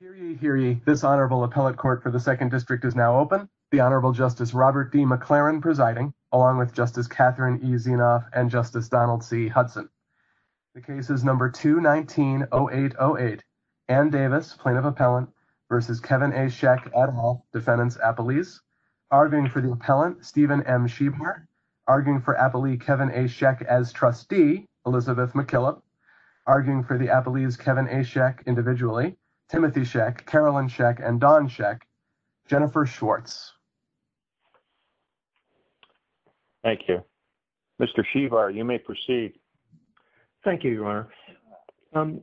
for the second district is now open. The Honorable Justice Robert D. McLaren presiding, along with Justice Catherine E. Zinoff and Justice Donald C. Hudson. The case is number 219-0808. Anne Davis, Plaintiff Appellant, versus Kevin A. Schenk et al., Defendants Appellees. Arguing for the Appellant, Stephen M. Schievar. Arguing for Appellee Kevin A. Schenk as Trustee, Elizabeth McKillop. Arguing for the Appellees, Kevin A. Schenk individually, Timothy Schenk, Carolyn Schenk, and Dawn Schenk, Jennifer Schwartz. Thank you. Mr. Schievar, you may proceed. Thank you, Your Honor.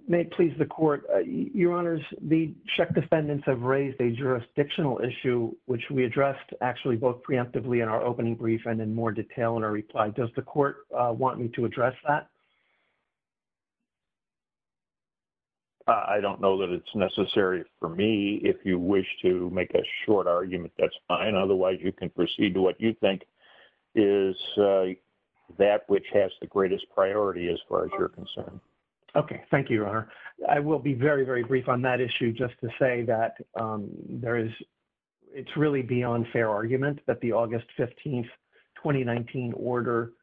May it please the Court, Your Honors, the Schenk defendants have raised a jurisdictional issue, which we addressed actually both preemptively in our opening brief and in more detail in our reply. Does the Court want me to address that? I don't know that it's necessary for me. If you wish to make a short argument, that's fine. Otherwise, you can proceed to what you think is that which has the greatest priority as far as you're concerned. Okay. Thank you, Your Honor. I will be very, very brief on that issue just to say that it's really beyond fair argument that the August 15th, 2019 order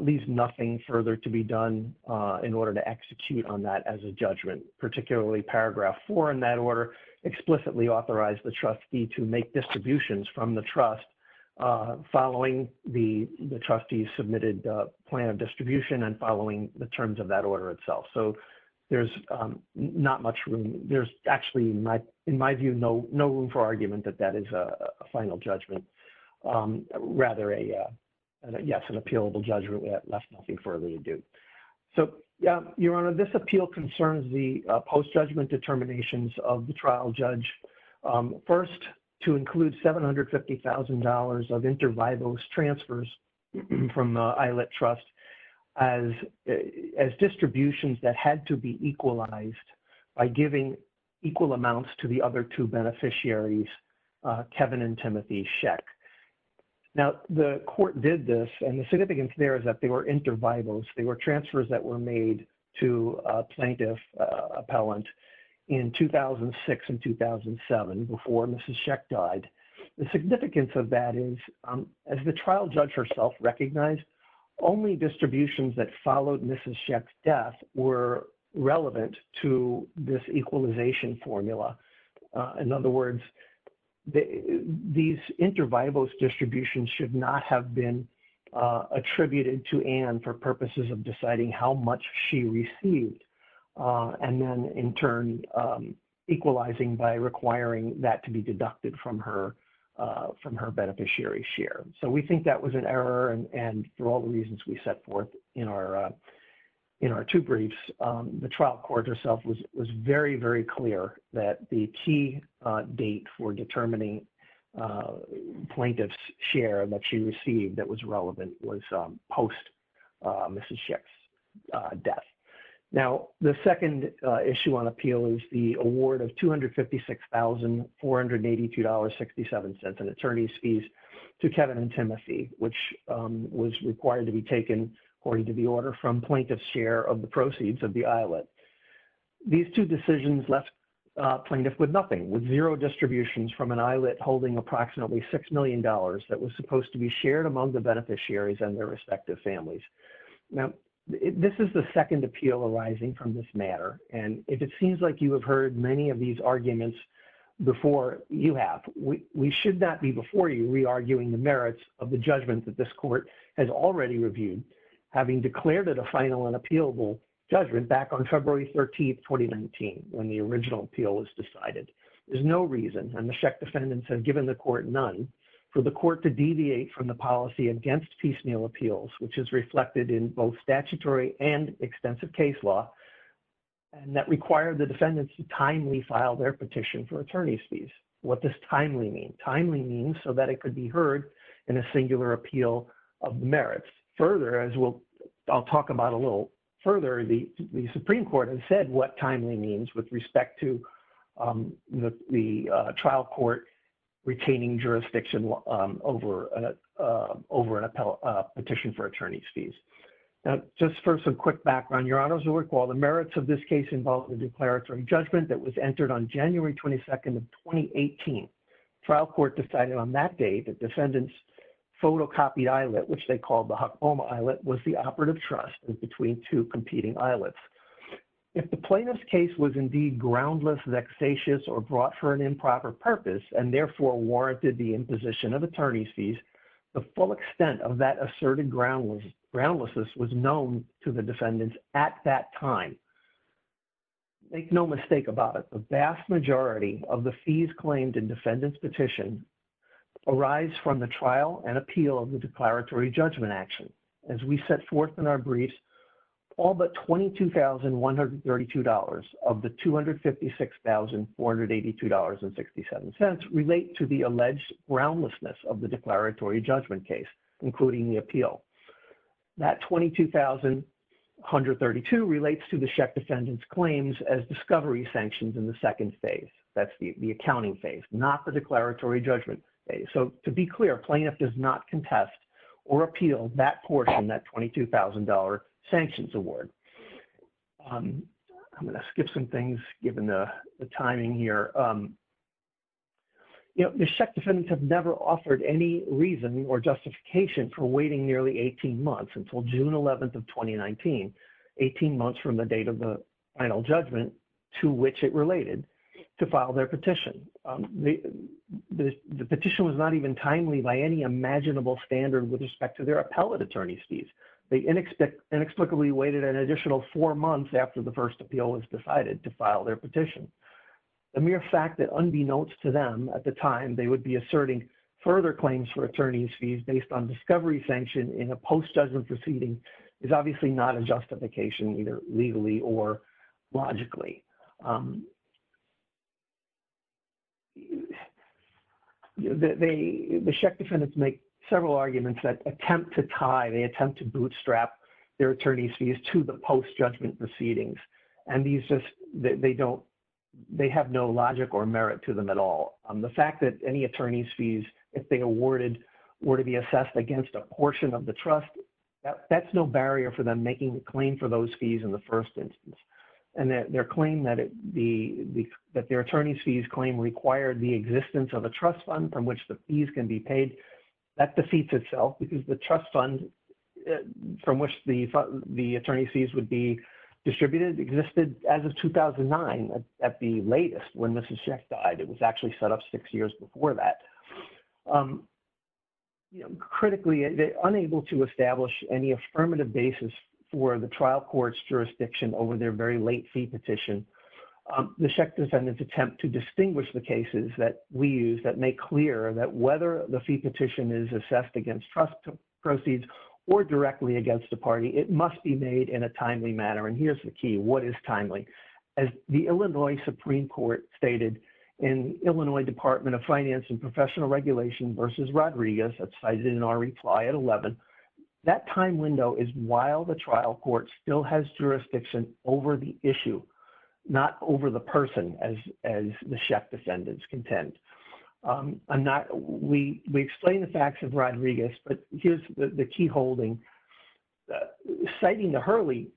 leaves nothing further to be done in order to execute on that as a judgment, particularly paragraph four in that order explicitly authorized the trustee to make distributions from the trust following the trustee's submitted plan of distribution and following the terms of that In my view, no room for argument that that is a final judgment. Rather, yes, an appealable judgment left nothing further to do. So, Your Honor, this appeal concerns the post-judgment determinations of the trial judge. First, to include $750,000 of inter vivos transfers from the Eilat Trust as distributions that had to be equalized by giving equal amounts to the other two beneficiaries, Kevin and Timothy Sheck. Now, the court did this and the significance there is that they were inter vivos. They were transfers that were made to a plaintiff appellant in 2006 and 2007 before Mrs. Sheck died. The significance of that is, as the trial judge herself recognized, only distributions that followed Mrs. Sheck's death were relevant to this equalization formula. In other words, these inter vivos distributions should not have been attributed to Ann for purposes of deciding how much she received and then in turn equalizing by requiring that to be deducted from her beneficiary's share. So, we think that was an error and for all the reasons we set forth in our two briefs, the trial court herself was very, very clear that the key date for determining plaintiff's share that she received that was relevant was post Mrs. Sheck's death. Now, the second issue on appeal is the award of $256,482.67 in attorney's fees to Kevin and Timothy, which was required to be taken according to the order from plaintiff's share of the proceeds of the Eilat. These two decisions left plaintiff with nothing, with zero distributions from an Eilat holding approximately $6 million that was supposed to be shared among the beneficiaries and their respective families. Now, this is the second appeal arising from this matter and if it seems like you have heard many of these arguments before you have, we should not be before you re-arguing the merits of the judgment that this court has already reviewed, having declared it a final and appealable judgment back on February 13th, 2019 when the original appeal was decided. There's no reason and the Sheck defendants have given the court none for the court to deviate from the policy against piecemeal appeals, which is reflected in both statutory and extensive case law and that required the defendants to timely file their petition for attorney's fees. What does timely mean? Timely means so that it could be heard in a singular appeal of merits. Further, as I'll talk about a little further, the Supreme Court has said what timely means with respect to the trial court retaining jurisdiction over an appellate petition for attorney's fees. Now, just for some quick background, your honors will recall the merits of this case involved the declaratory judgment that was entered on January 22nd of 2018. Trial court decided on that date that defendants photocopied Eilat, which they called the Oklahoma Eilat, was the operative trust in between two competing Eilats. If the plaintiff's case was indeed groundless, vexatious, or brought for an improper purpose and therefore warranted the imposition of attorney's fees, the full extent of that asserted groundlessness was known to the defendants at that time. Make no mistake about it, the vast majority of the fees claimed in defendant's petition arise from the trial and appeal of the declaratory judgment action. As we set forth in our briefs, all but $22,132 of the $256,482.67 relate to the alleged groundlessness of the declaratory judgment case, including the appeal. That $22,132 relates to the Sheck defendant's claims as discovery sanctions in the second phase. That's the accounting phase, not the declaratory judgment phase. So to be clear, plaintiff does not contest or appeal that portion, that $22,000 sanctions award. I'm going to skip some things given the timing here. You know, the Sheck defendants have never offered any reason or justification for waiting nearly 18 months until June 11th of 2019, 18 months from the date of the final judgment to which it related to file their petition. The petition was not even timely by any imaginable standard with respect to their appellate attorney's fees. They inexplicably waited an additional four months after the first appeal was decided to file their petition. The mere fact that unbeknownst to them at the time, they would be asserting further claims for attorney's fees based on discovery sanction in a post-judgment proceeding is obviously not a justification either legally or logically. The Sheck defendants make several arguments that attempt to tie, they attempt to bootstrap their attorney's fees to the post-judgment proceedings. And they have no logic or merit to them at all. The fact that any attorney's fees, if they awarded, were to be assessed against a portion of the trust, that's no barrier for them making the claim for those fees in the first instance. And their claim that their attorney's fees claim required the existence of a trust fund from which the fees can be paid, that defeats itself because the trust fund from which the attorney's fees would be distributed existed as of 2009 at the latest when Mrs. Sheck died. It was actually set up six years before that. Critically, unable to establish any affirmative basis for the very late fee petition, the Sheck defendants attempt to distinguish the cases that we use that make clear that whether the fee petition is assessed against trust proceeds or directly against the party, it must be made in a timely manner. And here's the key, what is timely? As the Illinois Supreme Court stated in Illinois Department of Finance and Professional Regulation versus Rodriguez, that's cited in our reply at 11, that time window is while the trial court still has jurisdiction over the issue, not over the person as the Sheck defendants contend. We explain the facts of Rodriguez, but here's the key holding, citing the Hurley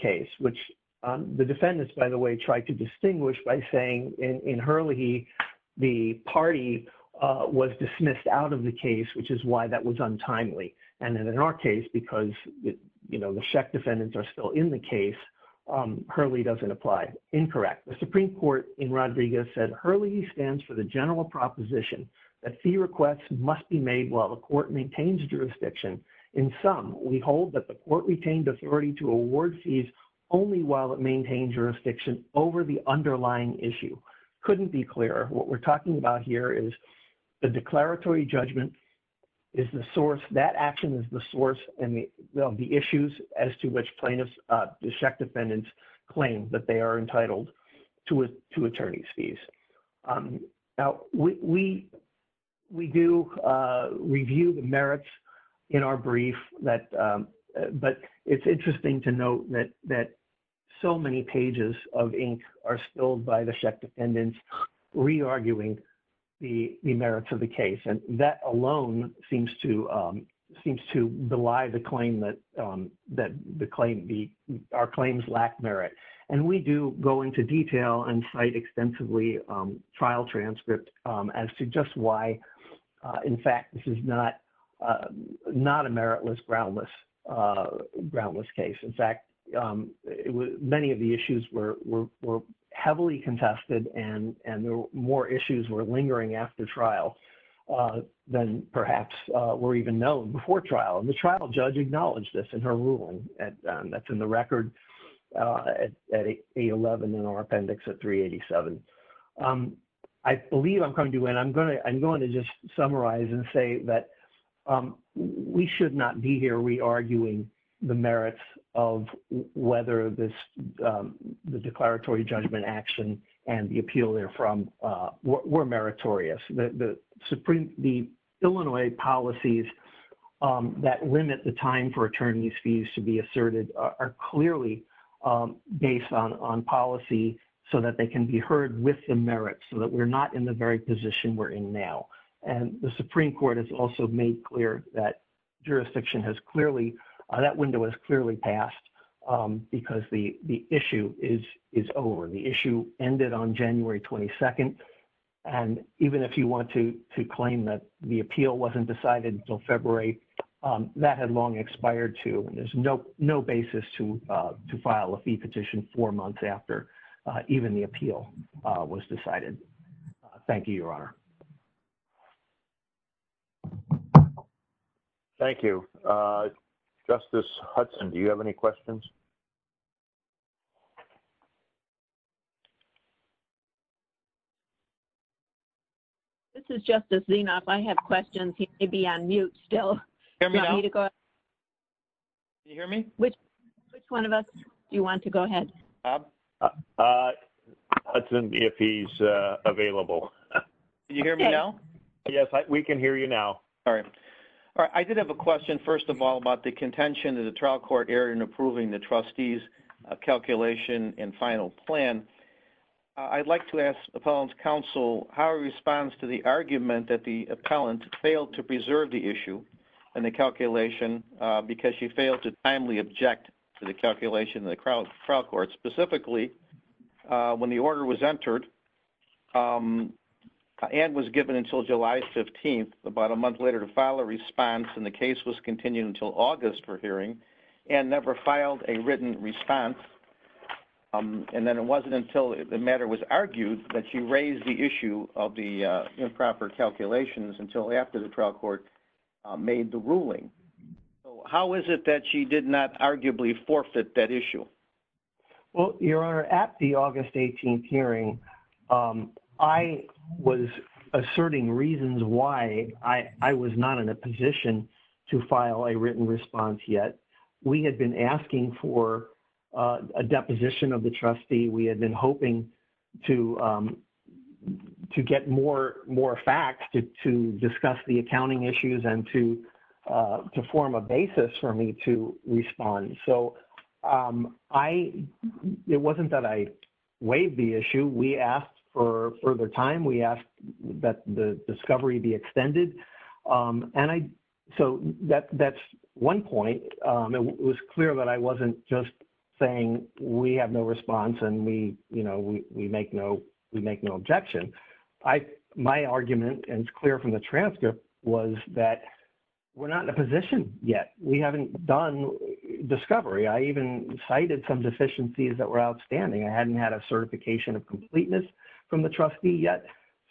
case, which the defendants, by the way, tried to distinguish by saying in Hurley, the party was dismissed out of the case, which is why that was untimely. And then in our case, because the Sheck defendants are still in the case, Hurley doesn't apply. Incorrect. The Supreme Court in Rodriguez said, Hurley stands for the general proposition that fee requests must be made while the court maintains jurisdiction. In sum, we hold that the court retained authority to award fees only while it maintained jurisdiction over the underlying issue. Couldn't be clearer. What we're talking about here is the declaratory judgment is the source, that action is the source and the issues as to which plaintiffs, the Sheck defendants claim that they are entitled to attorney's fees. Now, we do review the merits in our brief, but it's interesting to note that so many pages of the merits of the case, and that alone seems to belie the claim that our claims lack merit. And we do go into detail and cite extensively trial transcript as to just why, in fact, this is not a meritless, groundless case. In fact, many of the issues were heavily contested and more issues were lingering after trial than perhaps were even known before trial. And the trial judge acknowledged this in her ruling that's in the record at 811 in our appendix at 387. I believe I'm going to just summarize and say that we should not be here re-arguing the merits of whether the declaratory judgment action and the appeal therefrom were meritorious. The Illinois policies that limit the time for attorney's fees to be asserted are clearly based on policy so that they can be heard with the merits, so that we're not in the very position we're in now. And the Supreme Court has also made clear that jurisdiction has clearly, that window has clearly passed because the issue is over. The issue ended on January 22nd. And even if you want to claim that the appeal wasn't decided until February, that had long expired too. And there's no basis to file a fee petition four months after even the appeal was decided. Thank you, Your Honor. Thank you. Justice Hudson, do you have any questions? This is Justice Zinoff. I have questions. He may be on mute still. Can you hear me? Which one of us do you want to go ahead? Bob? Hudson, if he's available. Can you hear me now? Yes, we can hear you now. All right. All right. I did have a question, first of all, about the contention of the trial court error in approving the trustee's calculation and final plan. I'd like to ask Appellant's Counsel how he responds to the argument that the appellant failed to preserve the issue and the calculation because she failed to timely object to the calculation of the trial court. Specifically, when the order was entered, Anne was given until July 15th, about a month later, to file a response. And the case was continued until August for hearing. Anne never filed a written response. And then it wasn't until the matter was argued that she raised the of the improper calculations until after the trial court made the ruling. So how is it that she did not arguably forfeit that issue? Well, Your Honor, at the August 18th hearing, I was asserting reasons why I was not in a position to file a written response yet. We had been asking for a deposition of the trustee. We had been hoping to get more facts to discuss the accounting issues and to form a basis for me to respond. So it wasn't that I waived the issue. We asked for further time. We asked that the discovery be extended. So that's one point. It was clear that I wasn't just saying we have no response and we make no objection. My argument, and it's clear from the transcript, was that we're not in a position yet. We haven't done discovery. I even cited some deficiencies that were outstanding. I hadn't had a certification of completeness from the trustee yet.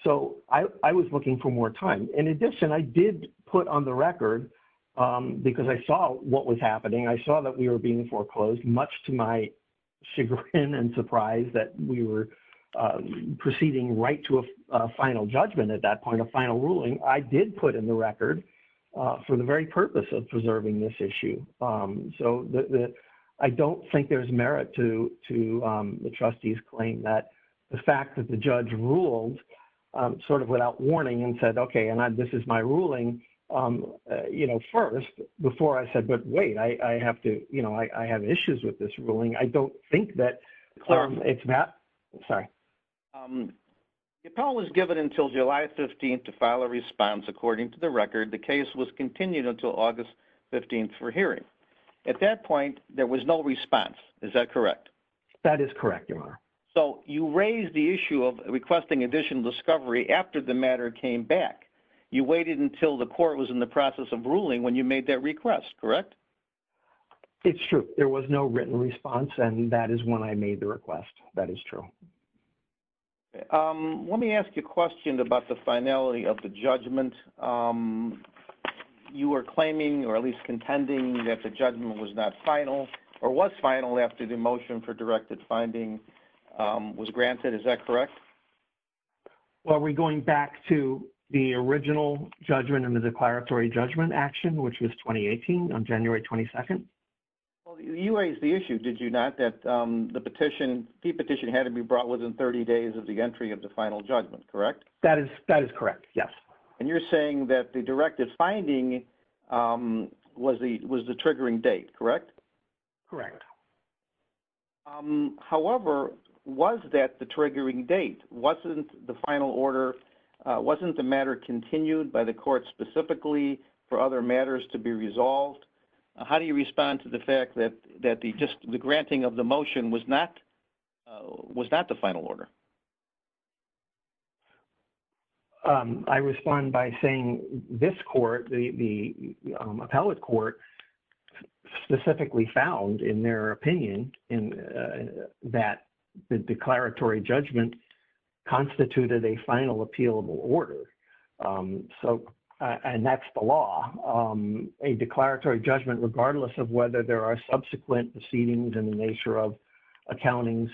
So I was looking for more time. In addition, I did put on the record, because I saw what was happening, I saw that we were being foreclosed, much to my chagrin and surprise that we were proceeding right to a final judgment at that point, a final ruling, I did put in the record for the very purpose of preserving this issue. So I don't think there's merit to the trustee's claim that the fact that the judge ruled sort of without warning and said, okay, and this is my ruling, you know, first, before I said, but wait, I have to, you know, I have issues with this ruling. I don't think that it's that. Sorry. The appellant was given until July 15th to file a response. According to the record, the case was continued until August 15th for hearing. At that point, there was no response. Is that correct? That is correct, Your Honor. So you raised the issue of requesting additional discovery after the matter came back. You waited until the court was in the process of ruling when you made that request, correct? It's true. There was no written response, and that is when I made the request. That is true. Let me ask you a question about the finality of the judgment. You were claiming, or at least contending, that the judgment was not final, or was final after the motion for directed finding was granted. Is that correct? Well, are we going back to the original judgment and the declaratory judgment action, which was 2018 on January 22nd? Well, you raised the issue, did you not, that the petition, the petition had to be brought within 30 days of the entry of the final judgment, correct? That is correct, yes. And you're saying that the directed finding was the triggering date, correct? Correct. However, was that the triggering date? Wasn't the final order, wasn't the matter continued by the court specifically for other matters to be resolved? How do you respond to the fact that just the granting of the motion was not the final order? I respond by saying this court, the appellate court, specifically found in their opinion that the declaratory judgment constituted a final appealable order. And that's the law. A declaratory judgment, regardless of whether there are subsequent proceedings in the nature of accountings,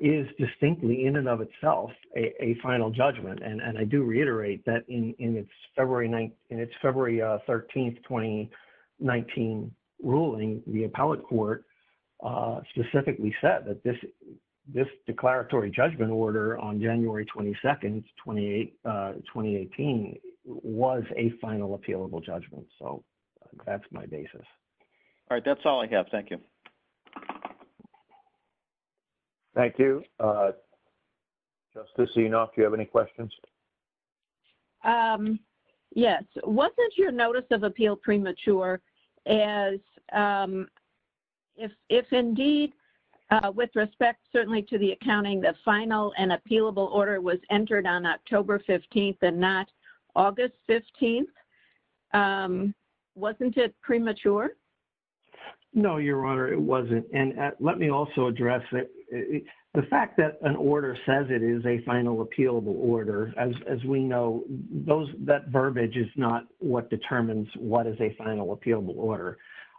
is distinctly in and of itself a final judgment. And I do reiterate that in its February 13th, 2019 ruling, the appellate court specifically said that this declaratory judgment order on January 22nd, 2018, was a final appealable judgment. So that's my basis. All right, that's all I have. Thank you. Thank you. Justice Zenoff, do you have any questions? Yes. Wasn't your notice of appeal premature as, if indeed, with respect certainly to the accounting, the final and appealable order was entered on October 15th and not August 15th? Wasn't it premature? No, Your Honor, it wasn't. And let me also address the fact that an order says it is a final appealable order. As we know, that verbiage is not what determines what is a final appealable order.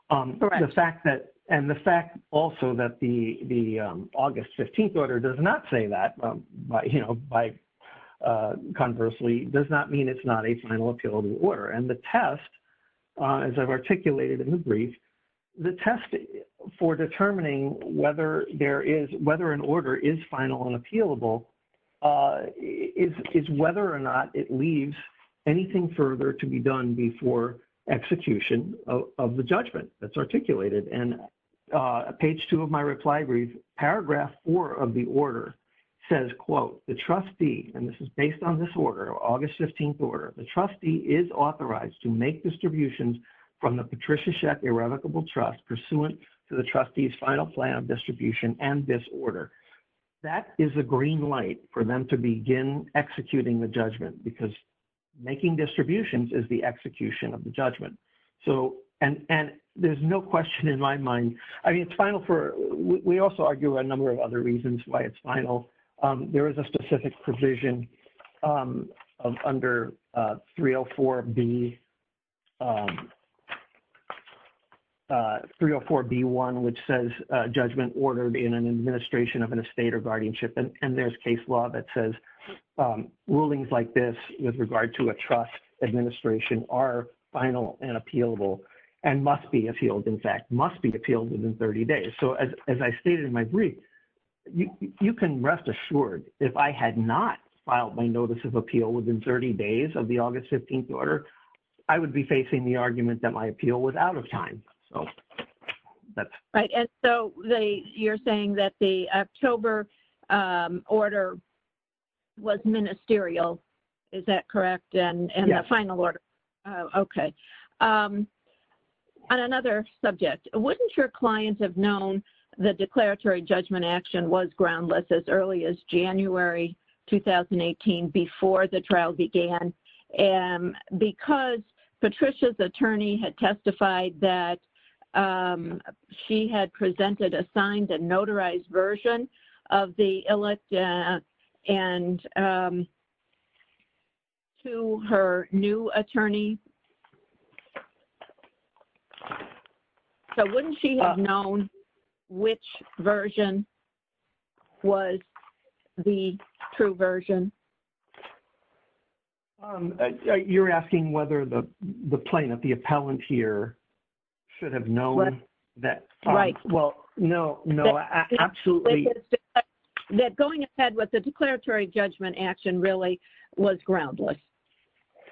And the fact also that the August 15th order does not say that, conversely, does not mean it's not a final appealable order. And the test, as I've articulated in the brief, the test for determining whether there is, whether an order is final and appealable is whether or not it leaves anything further to be done before execution of the judgment that's articulated. And page two of my reply brief, paragraph four of the order says, quote, the trustee, and this is based on this order, August 15th order, the trustee is authorized to make distributions from the Patricia Sheck Irrevocable Trust pursuant to the trustee's final plan of distribution and this order. That is the green light for them to begin executing the judgment because making distributions is the execution of the judgment. So, and there's no question in my mind, I mean, it's final for, we also argue a number of other reasons why it's provisioned under 304B, 304B1, which says judgment ordered in an administration of an estate or guardianship. And there's case law that says rulings like this with regard to a trust administration are final and appealable and must be appealed, in fact, must be appealed within 30 days. So, as I stated in my brief, you can rest assured if I had not filed my notice of appeal within 30 days of the August 15th order, I would be facing the argument that my appeal was out of time. So, that's. Right. And so, you're saying that the October order was ministerial, is that the declaratory judgment action was groundless as early as January 2018 before the trial began? And because Patricia's attorney had testified that she had presented a signed and notarized version of the election and to her new attorney. So, wouldn't she have known which version was the true version? You're asking whether the plaintiff, the appellant here should have known that. Right. Well, no, no, absolutely. That going ahead with the declaratory judgment action really was groundless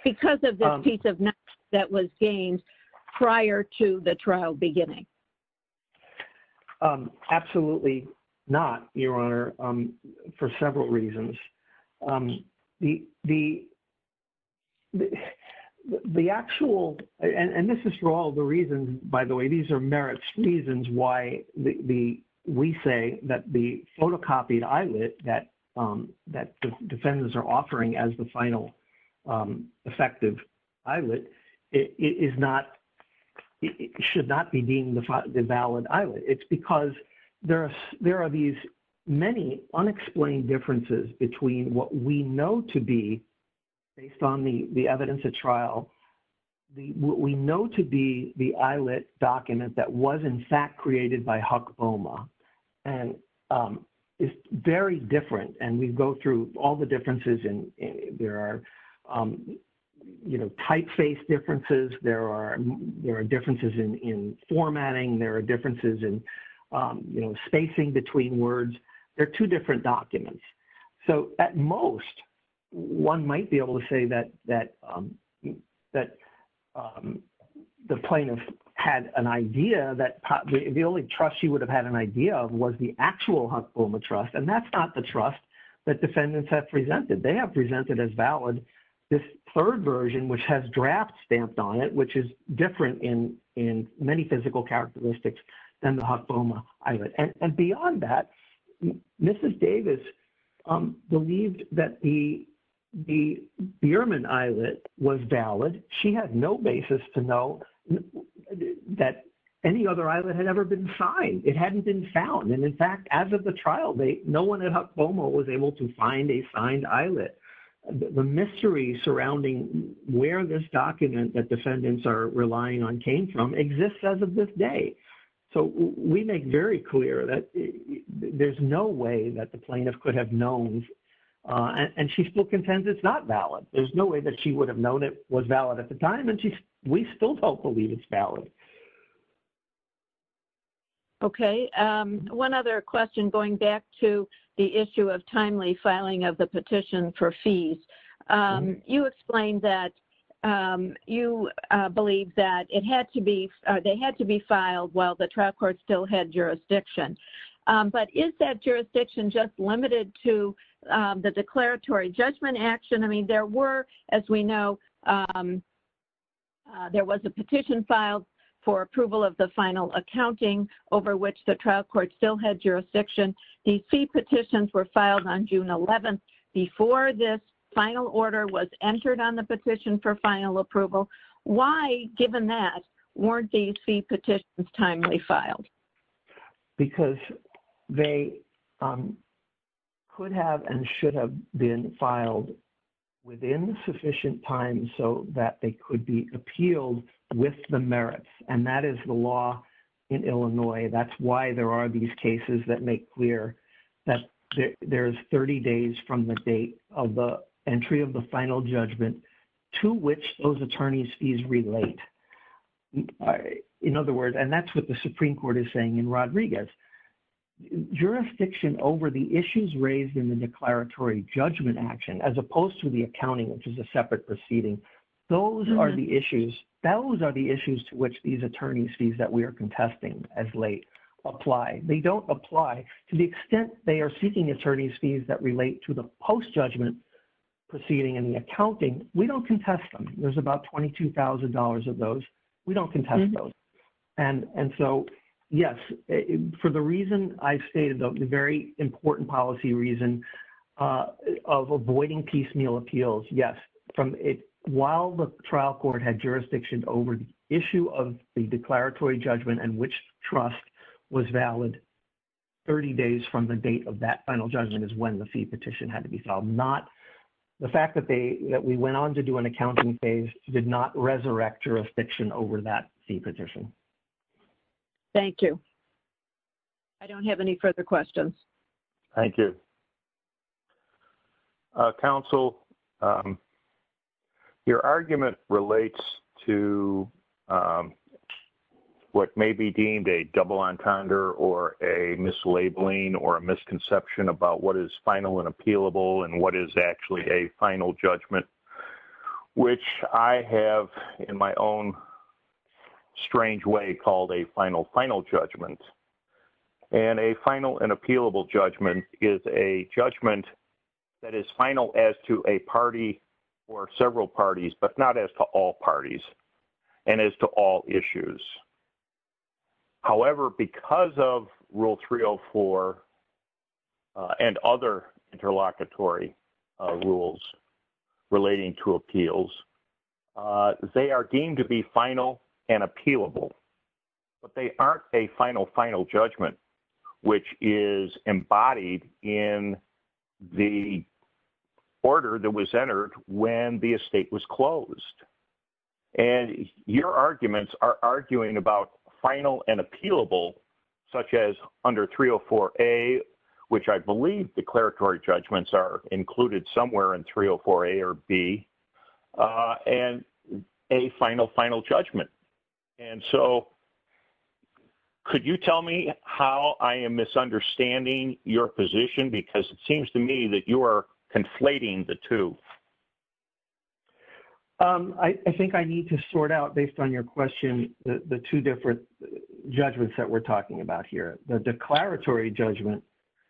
because of the piece of that was gained prior to the trial beginning. Absolutely not, Your Honor, for several reasons. The actual, and this is for all the reasons, by the way, these are merits reasons why we say that the photocopied eyelet that defendants are offering as the final effective eyelet is not, should not be deemed the valid eyelet. It's because there are these many unexplained differences between what we know to be based on the evidence at trial, what we know to be the eyelet document that was, in fact, created by Huck Boma. And it's very different. And we go through all the differences. And there are, you know, typeface differences. There are differences in formatting. There are differences in, you know, spacing between words. They're two different documents. So at most, one might be able to say that the plaintiff had an idea that the only trust she would have had an idea of was the actual Huck Boma trust. And that's not the trust that defendants have presented. They have presented as valid this third version, which has draft stamped on it, which is different in many physical characteristics than the Huck Boma eyelet. And beyond that, Mrs. Davis believed that the Bierman eyelet was valid. She had no basis to know that any other eyelet had ever been signed. It hadn't been found. And in fact, as of the trial date, no one at Huck Boma was able to find a signed eyelet. The mystery surrounding where this document that defendants are relying on came from exists as of this day. So we make very clear that there's no way that the plaintiff could have known. And she still contends it's not valid. There's no way that she would have known it was valid at the time. And we still don't believe it's valid. Okay. One other question going back to the issue of timely filing of the petition for fees. You explained that you believe that they had to be filed while the trial court still had jurisdiction. But is that jurisdiction just limited to the declaratory judgment action? I mean, there were, as we know, there was a petition filed for approval of the final accounting over which the trial court still had jurisdiction. These fee petitions were filed on June 11th before this final order was entered on the petition for final approval. Why, given that, weren't these fee petitions timely filed? Because they could have and should have been filed within sufficient time so that they could be appealed with the merits. And that is the law in Illinois. That's why there are these cases that make clear that there's 30 days from the date of the entry of the final judgment to which those attorney's fees relate. In other words, and that's what the Supreme Court is saying in Rodriguez, jurisdiction over the issues raised in the declaratory judgment action, as opposed to the accounting, which is a separate proceeding, those are the issues, those are the issues to which these attorney's fees that we are contesting as late apply. They don't apply to the extent they are seeking attorney's fees that relate to the post-judgment proceeding and the accounting. We don't contest them. There's about $22,000 of those. We don't contest those. And so, yes, for the reason I stated, the very important policy reason of avoiding piecemeal appeals, yes, while the trial court had jurisdiction over the issue of the declaratory judgment and which trust was valid 30 days from the date of that final judgment is when the fee petition had to be filed. The fact that we went on to do an accounting phase did not resurrect jurisdiction over that fee petition. Thank you. I don't have any further questions. Thank you. Counsel, your argument relates to what may be deemed a double entendre or a mislabeling or a misconception about what is final and appealable and what is actually a final judgment, which I have in my own strange way called a final final judgment. And a final and appealable judgment is a judgment that is final as to a party or several parties, but not as to all parties and as to all issues. However, because of Rule 304 and other interlocutory rules relating to appeals, they are deemed to be final and appealable, but they aren't a final final judgment, which is embodied in the order that was entered when the estate was closed. And your arguments are arguing about final and appealable, such as under 304A, which I believe declaratory judgments are included somewhere in 304A or B. And a final final judgment. And so, could you tell me how I am misunderstanding your position? Because it seems to me that you are conflating the two. I think I need to sort out, based on your question, the two different judgments that we're talking about here. The declaratory judgment,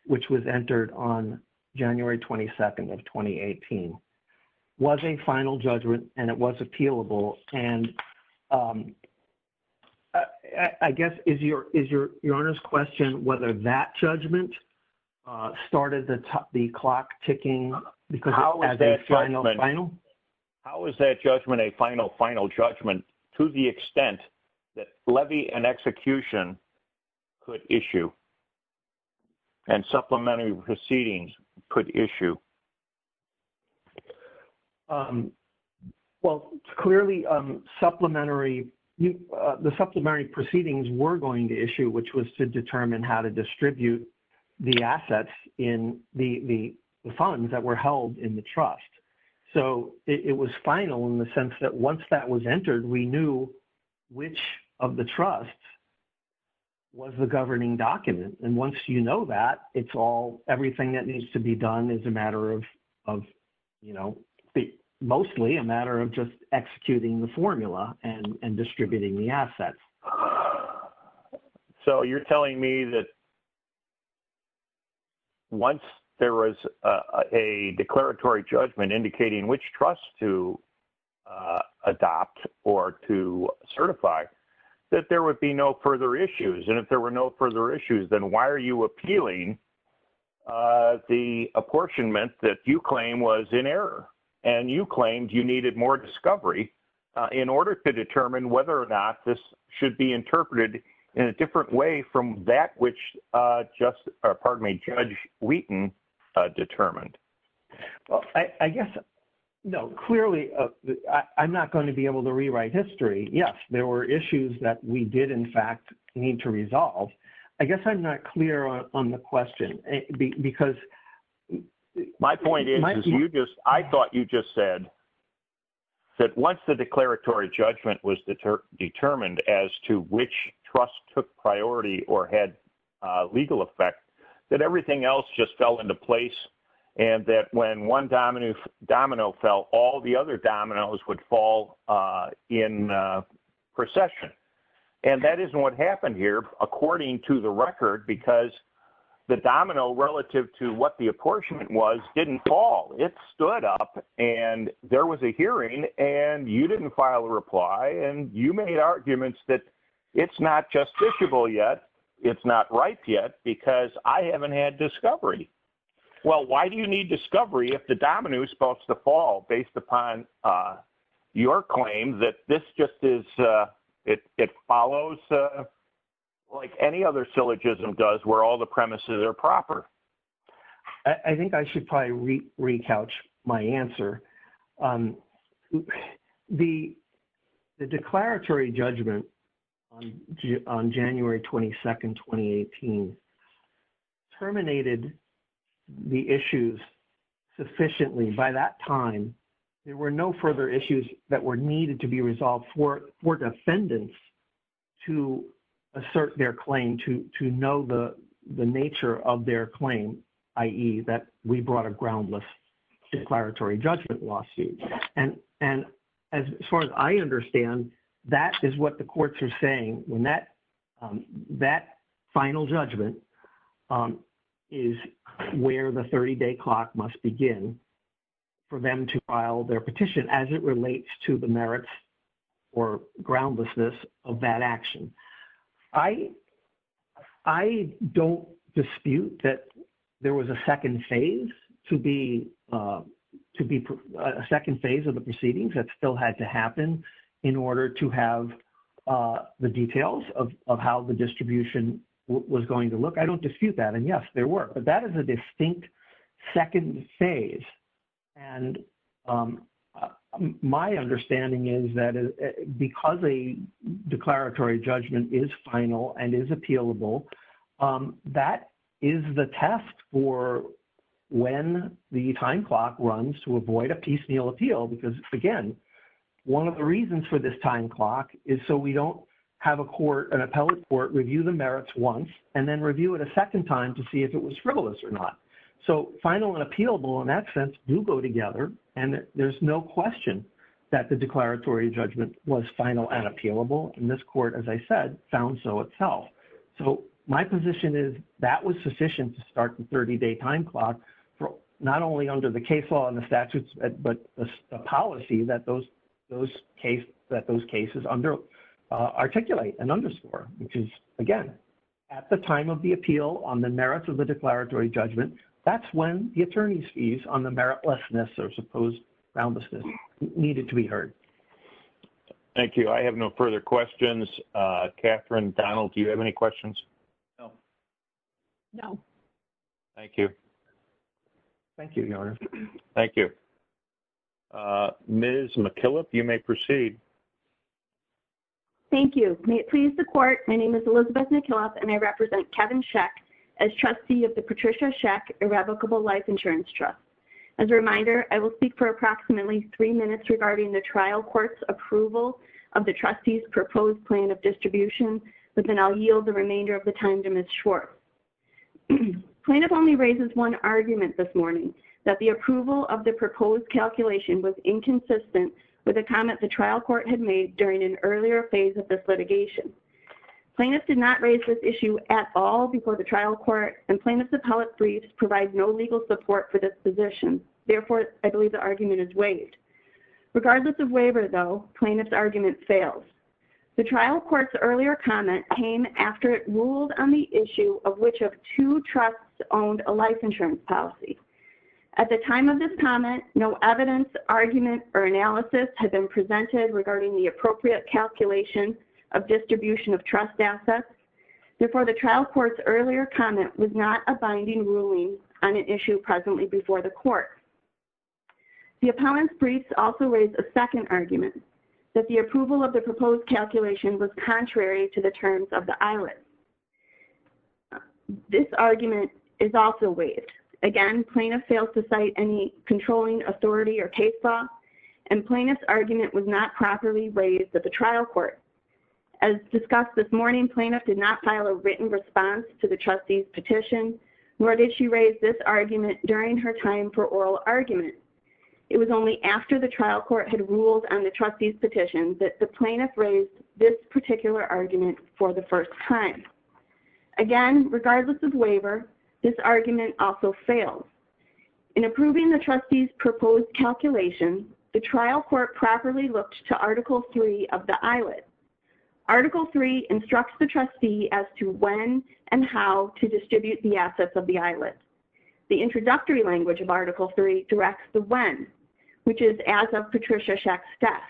which was entered on January 22nd of 2018, was a final judgment and it was appealable. And I guess, is your Honor's question whether that judgment started the clock ticking because it was a final final? How is that judgment a final final judgment to the extent that levy and execution could issue and supplementary proceedings could issue? Well, clearly, the supplementary proceedings were going to issue, which was to determine how to distribute the assets in the funds that were held in the trust. So, it was final in the And once you know that, it's all, everything that needs to be done is a matter of, you know, mostly a matter of just executing the formula and distributing the assets. So, you're telling me that once there was a declaratory judgment indicating which trust to then why are you appealing the apportionment that you claim was in error and you claimed you needed more discovery in order to determine whether or not this should be interpreted in a different way from that which Judge Wheaton determined? Well, I guess, no, clearly, I'm not going to be able to rewrite history. Yes, there were issues that we did, in fact, need to resolve. I guess I'm not clear on the question because My point is, you just, I thought you just said that once the declaratory judgment was determined as to which trust took priority or had legal effect that everything else just fell into place and that when one domino fell, all the other dominoes would fall in procession. And that isn't what happened here, according to the record, because the domino relative to what the apportionment was didn't fall. It stood up and there was a hearing and you didn't file a reply and you made arguments that it's not justiciable yet. It's not right yet because I haven't had discovery. Well, why do you need discovery if the domino is supposed to fall based upon your claim that this just is, it follows like any other syllogism does where all the premises are proper? I think I should probably re-couch my answer. The declaratory judgment on January 22nd, 2018 terminated the issues sufficiently by that time. There were no further issues that were needed to be resolved for defendants to assert their claim, to know the nature of their claim, i.e. that we brought a groundless declaratory judgment lawsuit. And as far as I understand, that is what the courts are saying when that final judgment is where the 30-day clock must begin for them to file their petition as it relates to the merits or groundlessness of that action. I don't dispute that there was a second phase to be, a second phase of the proceedings that to have the details of how the distribution was going to look. I don't dispute that. And yes, there were. But that is a distinct second phase. And my understanding is that because a declaratory judgment is final and is appealable, that is the test for when the time clock runs to is so we don't have a court, an appellate court review the merits once and then review it a second time to see if it was frivolous or not. So final and appealable in that sense do go together. And there's no question that the declaratory judgment was final and appealable. And this court, as I said, found so itself. So my position is that was sufficient to start the 30-day time clock not only under the case law and the statutes, but the policy that those cases articulate and underscore, which is, again, at the time of the appeal on the merits of the declaratory judgment, that's when the attorney's fees on the meritlessness or supposed groundlessness needed to be heard. Thank you. I have no further questions. Catherine, Donald, do you have any Thank you, Your Honor. Thank you. Ms. McKillop, you may proceed. Thank you. May it please the court, my name is Elizabeth McKillop and I represent Kevin Scheck as trustee of the Patricia Scheck Irrevocable Life Insurance Trust. As a reminder, I will speak for approximately three minutes regarding the trial court's approval of the trustee's proposed plan of distribution, but then I'll yield the remainder of the time to Ms. Schwartz. Plaintiff only raises one argument this morning, that the approval of the proposed calculation was inconsistent with a comment the trial court had made during an earlier phase of this litigation. Plaintiff did not raise this issue at all before the trial court and plaintiff's appellate briefs provide no legal support for this position. Therefore, I believe the argument is waived. Regardless of waiver, though, plaintiff's argument fails. The trial court's earlier comment came after it ruled on the issue of which of two trusts owned a life insurance policy. At the time of this comment, no evidence, argument, or analysis had been presented regarding the appropriate calculation of distribution of trust assets before the trial court's earlier comment was not a binding ruling on an issue presently before the court. The appellant's briefs also raise a second argument, that the approval of the proposed calculation was contrary to the terms of the ILS. This argument is also waived. Again, plaintiff fails to cite any controlling authority or case law, and plaintiff's argument was not properly raised at the trial court. As discussed this morning, plaintiff did not file a written response to the trustee's petition, nor did she raise this argument during her time for oral argument. It was only after the trial court had ruled on the trustee's petition that the plaintiff raised this particular argument for the first time. Again, regardless of waiver, this argument also fails. In approving the trustee's proposed calculation, the trial court properly looked to Article III of the ILS. Article III instructs the trustee as to when and how to distribute the assets of the ILS. The introductory language of Article III directs the when, which is as of Patricia Schacht's death.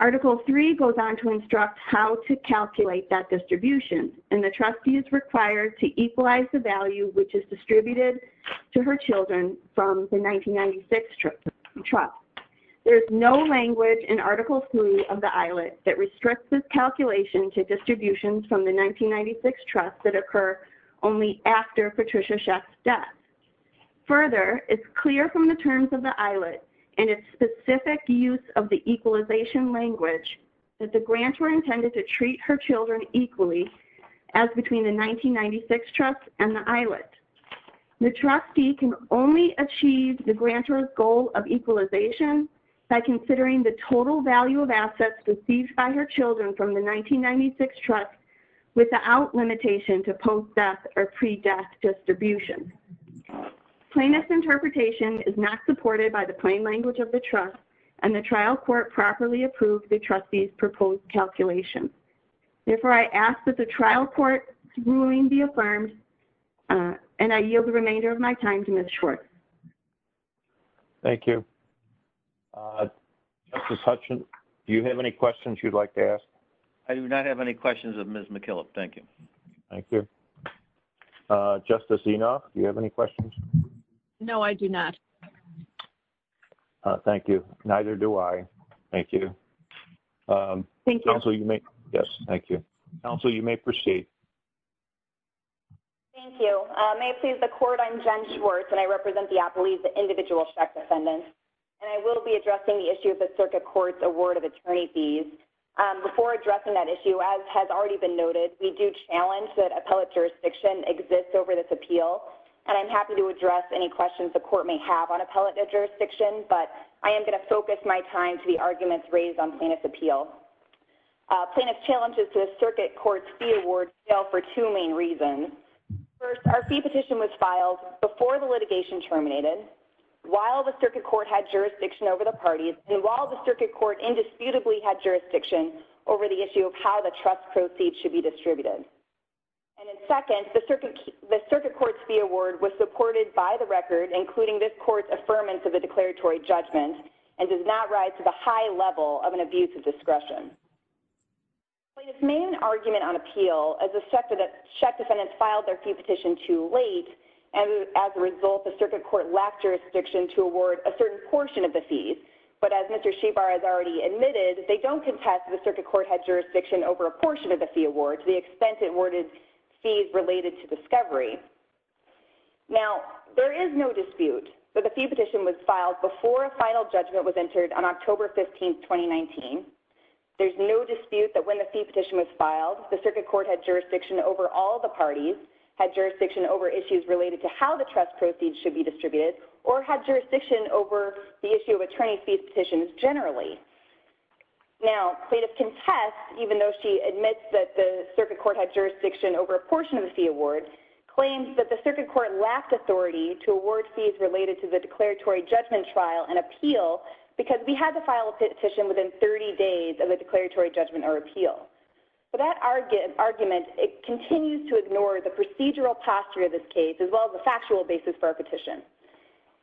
Article III goes on to instruct how to calculate that distribution, and the trustee is required to equalize the value which is distributed to her children from the 1996 trust. There is no language in Article III of the ILS that restricts this calculation to distributions from the 1996 trust that occur only after Patricia Schacht's death. Further, it is clear from the terms of the ILS and its specific use of the equalization language that the grantor intended to treat her children equally as between the 1996 trust and the ILS. The trustee can only achieve the grantor's goal of equalization by considering the total value of assets received by her children from the 1996 trust without limitation to post-death or pre-death distribution. Plaintiff's interpretation is not supported by the plain language of the trust, and the trial court properly approved the trustee's proposed calculation. Therefore, I ask that the trial court's ruling be affirmed, and I yield the remainder of my time to Ms. Schwartz. Thank you. Justice Hutchins, do you have any questions you'd like to ask? I do not have any questions of Ms. McKillop. Thank you. Thank you. Justice Enoff, do you have any questions? No, I do not. Thank you. Neither do I. Thank you. Thank you. Counsel, you may proceed. Thank you. May it please the Court, I'm Jen Schwartz, and I represent the Appalachian Individual Schacht Defendant, and I will be addressing the issue of the circuit court's of attorney fees. Before addressing that issue, as has already been noted, we do challenge that appellate jurisdiction exists over this appeal, and I'm happy to address any questions the Court may have on appellate jurisdiction, but I am going to focus my time to the arguments raised on plaintiff's appeal. Plaintiff's challenges to the circuit court's fee award fail for two main reasons. First, our fee petition was filed before the litigation terminated, while the circuit court indisputably had jurisdiction over the issue of how the trust proceeds should be distributed. And then second, the circuit court's fee award was supported by the record, including this court's affirmance of the declaratory judgment, and does not rise to the high level of an abuse of discretion. Plaintiff made an argument on appeal as the Schacht Defendant filed their fee petition too late, and as a result, the circuit court lacked jurisdiction to award a certain portion of the fees. But as Mr. Shabar has already admitted, they don't contest the circuit court had jurisdiction over a portion of the fee award to the extent it awarded fees related to discovery. Now, there is no dispute that the fee petition was filed before a final judgment was entered on October 15, 2019. There's no dispute that when the fee petition was filed, the circuit court had jurisdiction over all the parties, had jurisdiction over issues related to how the trust proceeds should be distributed, or had jurisdiction over the issue of attorney fees petitions generally. Now, plaintiff contests, even though she admits that the circuit court had jurisdiction over a portion of the fee award, claims that the circuit court lacked authority to award fees related to the declaratory judgment trial and appeal because we had to file a petition within 30 days of the declaratory judgment or appeal. But that argument continues to ignore the procedural posture of this case, as well as the factual basis for a petition.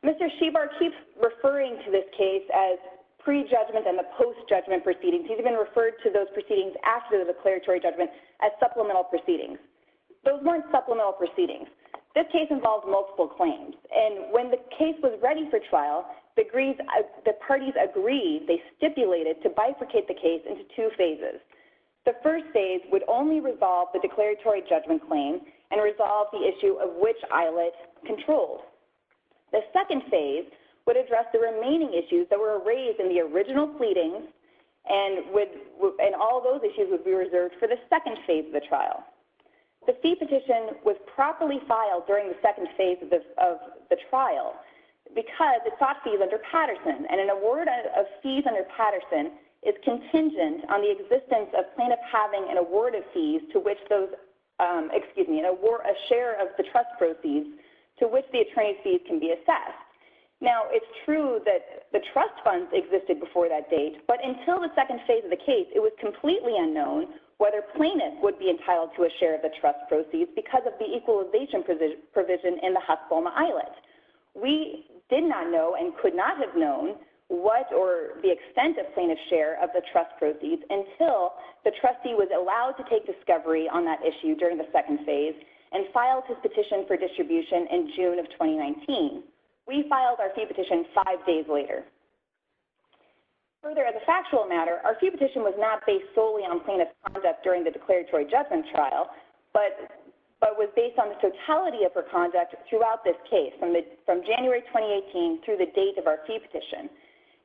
Mr. Shabar keeps referring to this case as pre-judgment and the post-judgment proceedings. He's even referred to those proceedings after the declaratory judgment as supplemental proceedings. Those weren't supplemental proceedings. This case involves multiple claims, and when the case was ready for trial, the parties agreed, they stipulated, to bifurcate the case into two phases. The first phase would only resolve the declaratory judgment claim and resolve the issue of which Islet controlled. The second phase would address the remaining issues that were raised in the original pleadings, and all those issues would be reserved for the second phase of the trial. The fee petition was properly filed during the second phase of the trial because it sought fees under Patterson, and an award of fees under Patterson is contingent on the existence of having an award of fees to which those, excuse me, a share of the trust proceeds to which the attorney's fees can be assessed. Now, it's true that the trust funds existed before that date, but until the second phase of the case, it was completely unknown whether plaintiffs would be entitled to a share of the trust proceeds because of the equalization provision in the Hust-Bulma Islet. We did not know and could not have known what or the extent of plaintiff's share of the trustee was allowed to take discovery on that issue during the second phase and filed his petition for distribution in June of 2019. We filed our fee petition five days later. Further, as a factual matter, our fee petition was not based solely on plaintiff's conduct during the declaratory judgment trial, but was based on the totality of her conduct throughout this case from January 2018 through the date of our fee petition.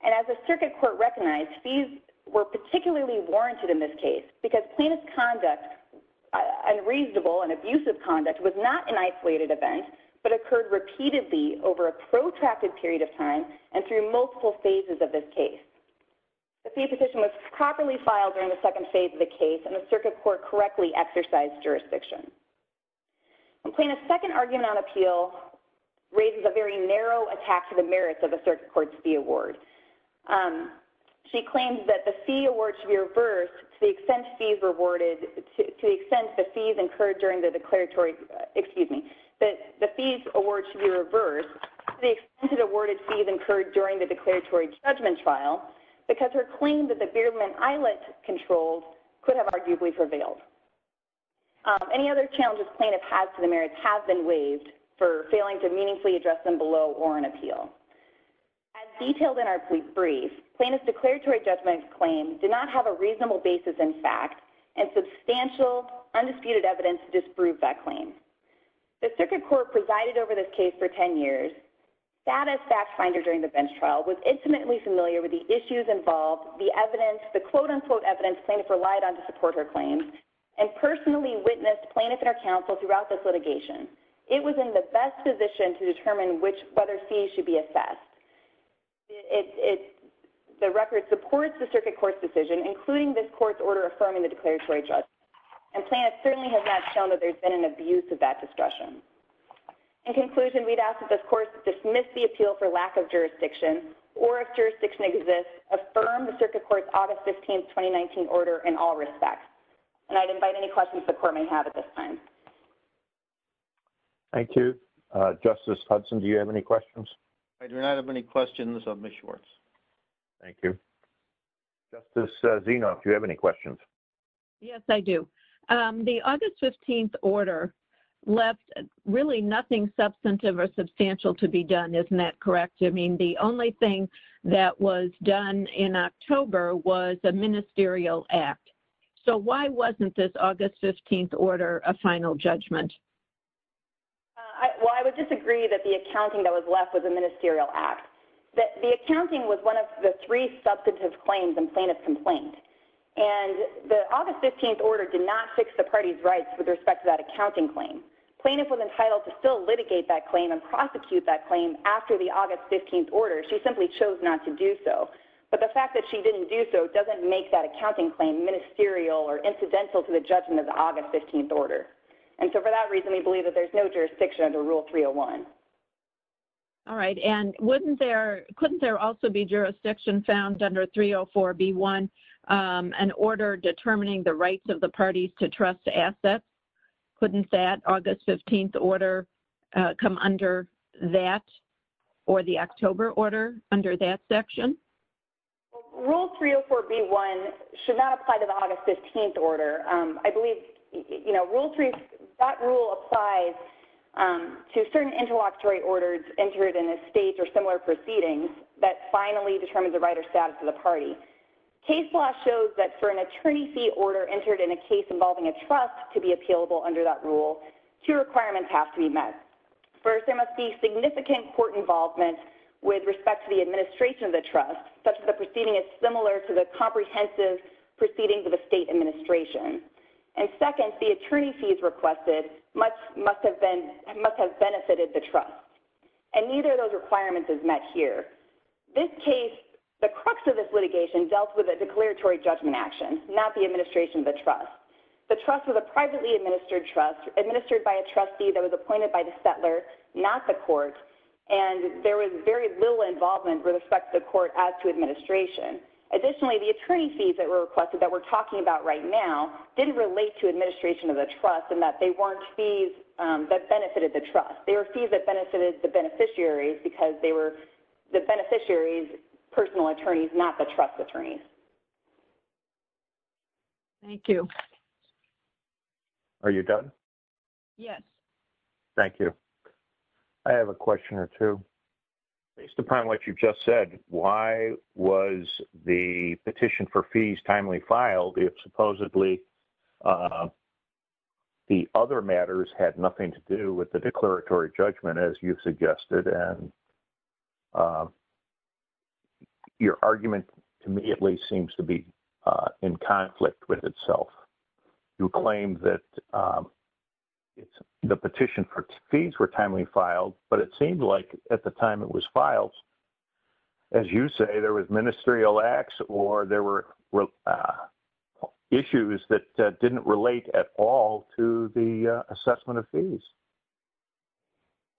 And as the circuit court recognized, fees were particularly warranted in this case because plaintiff's conduct, unreasonable and abusive conduct, was not an isolated event, but occurred repeatedly over a protracted period of time and through multiple phases of this case. The fee petition was properly filed during the second phase of the case and the circuit court correctly exercised jurisdiction. Plaintiff's second argument on appeal raises a very narrow attack to the merits of the circuit court's fee award. She claims that the fee award should be reversed to the extent fees rewarded, to the extent the fees incurred during the declaratory, excuse me, that the fees award should be reversed to the extent that awarded fees incurred during the declaratory judgment trial because her claim that the Beardman Islet controls could have arguably prevailed. Any other challenges plaintiff has to the merits have been waived for failing to meaningfully address them below or on appeal. As detailed in our brief, plaintiff's declaratory judgment claim did not have a reasonable basis in fact and substantial undisputed evidence to disprove that claim. The circuit court presided over this case for 10 years. That as fact finder during the bench trial was intimately familiar with the issues involved, the evidence, the quote-unquote evidence plaintiff relied on to support her claims and personally witnessed plaintiff and her counsel throughout this litigation. It was in the best position to determine whether fees should be assessed. The record supports the circuit court's decision including this court's order affirming the declaratory judgment and plaintiff certainly has not shown that there's been an abuse of that discretion. In conclusion, we'd ask that this court dismiss the appeal for lack of jurisdiction or if jurisdiction exists affirm the circuit court's August 15, 2019 order in all respects and I'd invite any questions the court may have at this time. Thank you. Justice Hudson, do you have any questions? I do not have any questions of Ms. Schwartz. Thank you. Justice Zinov, do you have any questions? Yes, I do. The August 15th order left really nothing substantive or substantial to be done, isn't that correct? I mean the only thing that was done in October was a ministerial act so why wasn't this August 15th order a final judgment? Well, I would disagree that the accounting that was left was a ministerial act. The accounting was one of the three substantive claims in plaintiff's complaint and the August 15th order did not fix the party's rights with respect to that accounting claim. Plaintiff was entitled to still litigate that claim and prosecute that claim after the August 15th order. She simply chose not to do so but the fact that she didn't do so doesn't make that accounting claim ministerial or incidental to the judgment of the August 15th order and so for that reason we believe that there's no jurisdiction under Rule 301. All right and wouldn't there, couldn't there also be jurisdiction found under 304b1 an order determining the rights of the parties to trust assets? Couldn't that August 15th order come under that or the October order under that section? Rule 304b1 should not apply to the August 15th order. I believe, you know, Rule 3, that rule applies to certain interlocutory orders entered in a state or similar proceedings that finally determine the right or status of the party. Case law shows that for an attorney fee order entered in a case involving a trust to be appealable under that rule, two requirements have to be met. First, there must be significant court involvement with respect to the administration of the trust such that the proceeding is similar to the comprehensive proceedings of a state administration and second, the attorney fees requested must have been, must have benefited the trust and neither of those requirements is met here. This case, the crux of this litigation dealt with a declaratory judgment action, not the administration of the trust. The trust was a privately administered trust administered by a trustee that was appointed by the settler, not the court, and there was very little involvement with respect to the court as to administration. Additionally, the attorney fees that were requested that we're talking about right now didn't relate to administration of the trust and that they weren't fees that benefited the trust. They were fees that benefited the beneficiaries because they were the beneficiaries' personal attorneys, not the trust attorneys. Thank you. Are you done? Yes. Thank you. I have a question or two. Based upon what you just said, why was the petition for fees timely filed if supposedly the other matters had nothing to do with the declaratory judgment as you've suggested and your argument immediately seems to be in conflict with itself? You claim that the petition for fees were timely filed, but it seemed like at the time it was filed, as you say, there was ministerial acts or there were issues that didn't relate at all to the assessment of fees.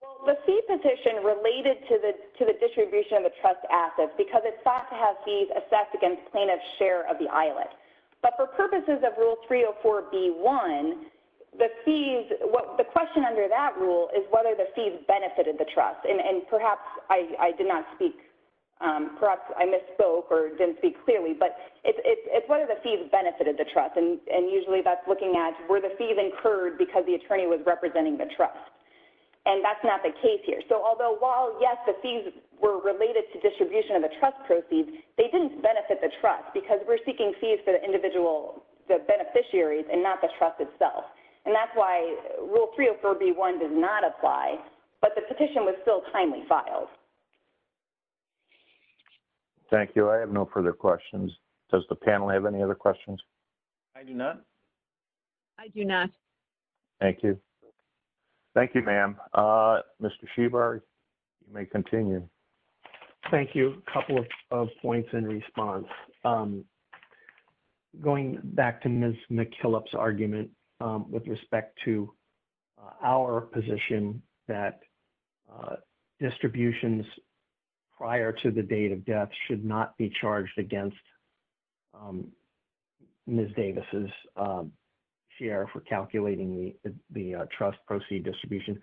Well, the fee petition related to the distribution of the trust assets because it sought to have fees assessed against plaintiff's share of the islet. But for purposes of Rule 304B1, the question under that rule is whether the fees benefited the trust. And perhaps I did not speak, perhaps I misspoke or didn't speak clearly, but it's whether the fees benefited the trust. And usually that's looking at were the fees incurred because the attorney was representing the trust. And that's not the case here. So although while, yes, the fees were related to distribution of the trust proceeds, they didn't benefit the trust because we're seeking fees for the individual beneficiaries and not the trust itself. And that's why Rule 304B1 does not apply, but the petition was still timely filed. Thank you. I have no further questions. Does the panel have any other questions? I do not. I do not. Thank you. Thank you, ma'am. Mr. Shebar, you may continue. Thank you. A couple of points in response. Going back to Ms. McKillop's argument with respect to our position that distributions prior to the date of death should not be charged against Ms. Davis's share for calculating the trust proceed distribution.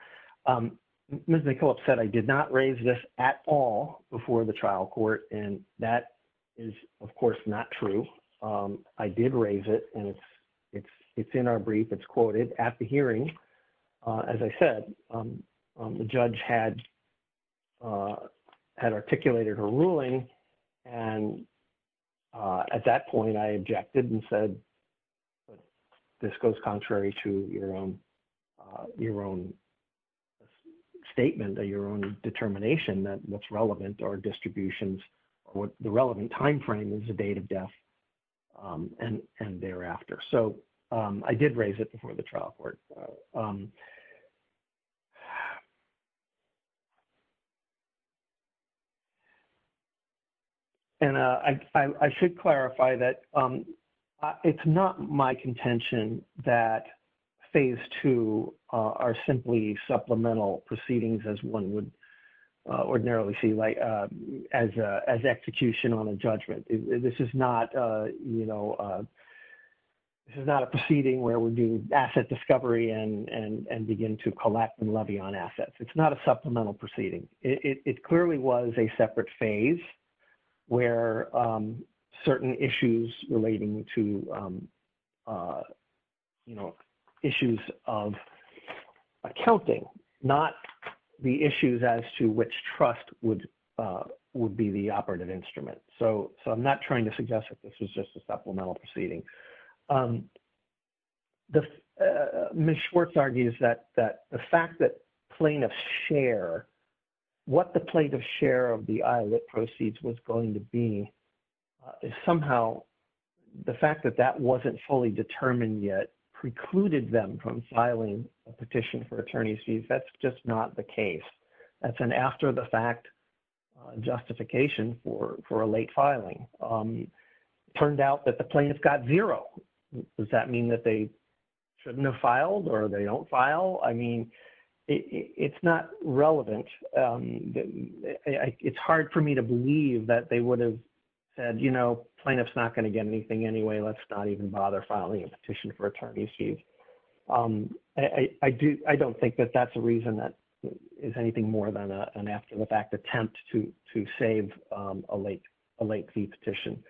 Ms. McKillop said I did not raise this at all before the trial court. And that is, of course, not true. I did raise it, and it's in our brief. It's quoted at the hearing. As I said, the judge had articulated her ruling and at that point, I objected and said, this goes contrary to your own statement or your own determination that what's relevant or distributions or the relevant timeframe is the date of death and thereafter. So I did raise it before the trial court. And I should clarify that it's not my contention that phase two are simply supplemental proceedings as one would ordinarily see as execution on a judgment. This is not a proceeding where we do asset discovery and begin to collect and levy on assets. It's not a supplemental proceeding. It clearly was a separate phase where certain issues relating to issues of accounting, not the issues as to which trust would be the operative instrument. So I'm not trying to suggest that this was just a supplemental proceeding. Ms. Schwartz argues that the fact that plaintiffs share what the plaintiff's share of the IOLIT proceeds was going to be is somehow the fact that that wasn't fully determined yet precluded them from filing a petition for attorney's fees. That's just not the case. That's an after the fact justification for a late filing. It turned out that the plaintiff got zero. Does that mean that they shouldn't have filed? I mean, it's not relevant. It's hard for me to believe that they would have said, you know, plaintiff's not going to get anything anyway. Let's not even bother filing a petition for attorney's fees. I don't think that that's a reason that is anything more than an after the fact attempt to save a late fee petition.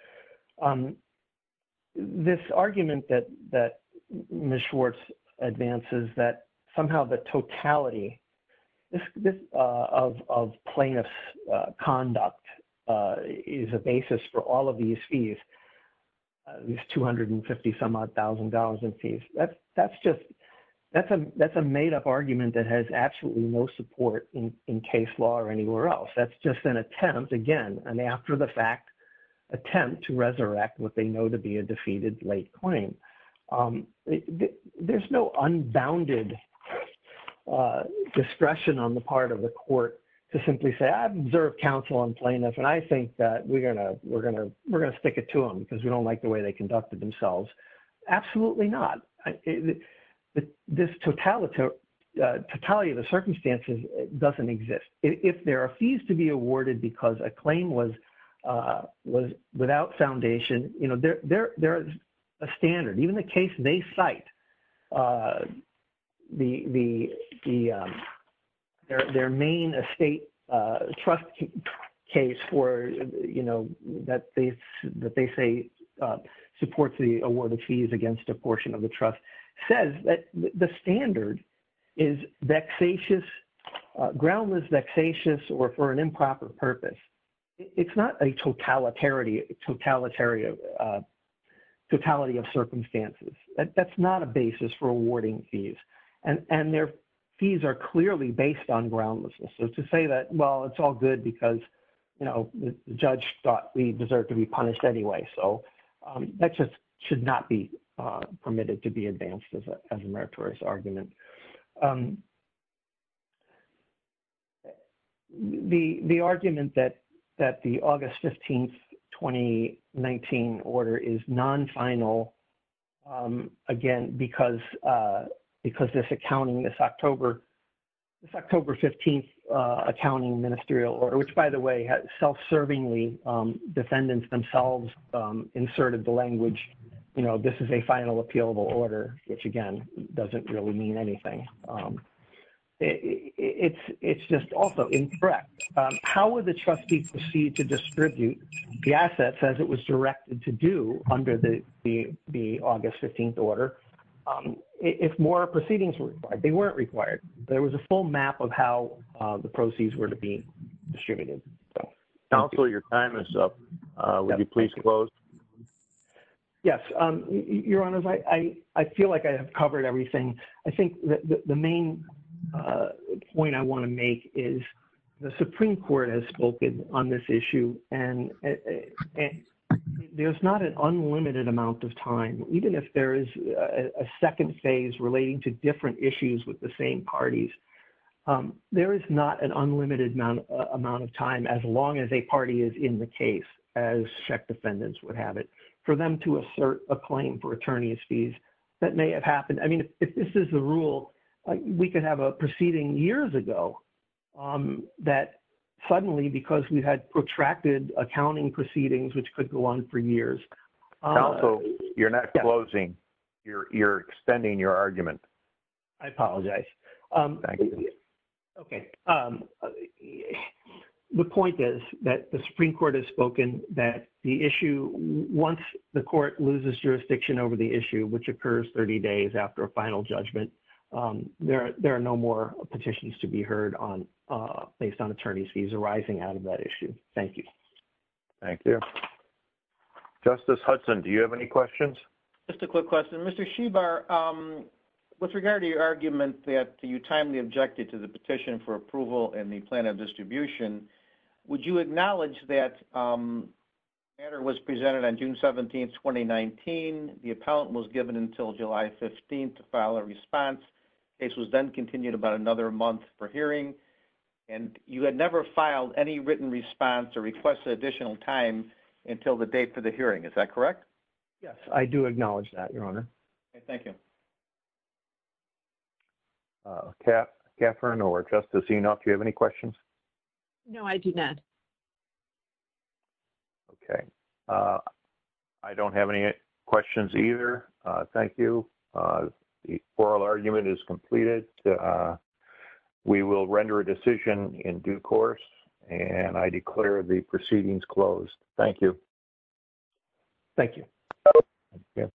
This argument that Ms. Schwartz advances that somehow the totality of plaintiff's conduct is a basis for all of these fees, these 250 some odd thousand dollars in fees. That's a made up argument that has absolutely no support in case law or any else. That's just an attempt, again, an after the fact attempt to resurrect what they know to be a defeated late claim. There's no unbounded discretion on the part of the court to simply say, I've observed counsel on plaintiffs and I think that we're going to stick it to them because we don't like the way they conducted themselves. Absolutely not. This totality of the circumstances doesn't exist. If there are fees to be awarded because a claim was without foundation, you know, there is a standard. Even the case they cite, their main estate trust case for, you know, that they say supports the award of fees against a portion of the trust, says that the standard is vexatious, groundless vexatious or for an improper purpose. It's not a totality of circumstances. That's not a basis for awarding fees and their fees are clearly based on groundlessness. So to say that, well, it's all good because, you know, the judge thought we deserve to be punished anyway. So that just should not be permitted to be advanced as a meritorious argument. The argument that the August 15th, 2019 order is non-final, again, because this accounting, this October 15th accounting ministerial order, which by the way, self-servingly defendants themselves inserted the language, you know, this is a final appealable order, which again, doesn't really mean anything. It's just also incorrect. How would the trustee proceed to distribute the assets as it was directed to do under the August 15th order if more proceedings were required? They weren't required. There was a full map of how the proceeds were to be distributed. Counselor, your time is up. Would you please close? Yes. Your Honor, I feel like I have covered everything. I think the main point I want to make is the Supreme Court has spoken on this issue and there's not an unlimited amount of time, even if there is a second phase relating to different issues with the same parties. There is not an unlimited amount of time as long as a party is in the case, as check defendants would have it, for them to assert a claim for attorney's fees. That may have happened. I mean, if this is the rule, we could have a proceeding years ago that suddenly, because we had protracted accounting proceedings, which could go on for years. Counsel, you're not closing. You're extending your argument. I apologize. Okay. The point is that the Supreme Court has spoken that the issue, once the court loses jurisdiction over the issue, which occurs 30 days after a final judgment, there are no more petitions to be heard based on attorney's fees arising out of that issue. Thank you. Thank you. Justice Hudson, do you have any questions? Just a quick question. Mr. Shibar, with regard to your argument that you timely objected to the petition for approval and the plan of distribution, would you acknowledge that the matter was presented on June 17th, 2019, the appellant was given until July 15th to file a response. The case was then continued about another month for hearing, and you had never filed any written response or requested additional time until the date for the hearing. Is that correct? I do acknowledge that, Your Honor. Okay. Thank you. Katherine or Justice Enoff, do you have any questions? No, I do not. Okay. I don't have any questions either. Thank you. The oral argument is completed. We will render a decision in due course, and I declare the proceedings closed. Thank you. Thank you.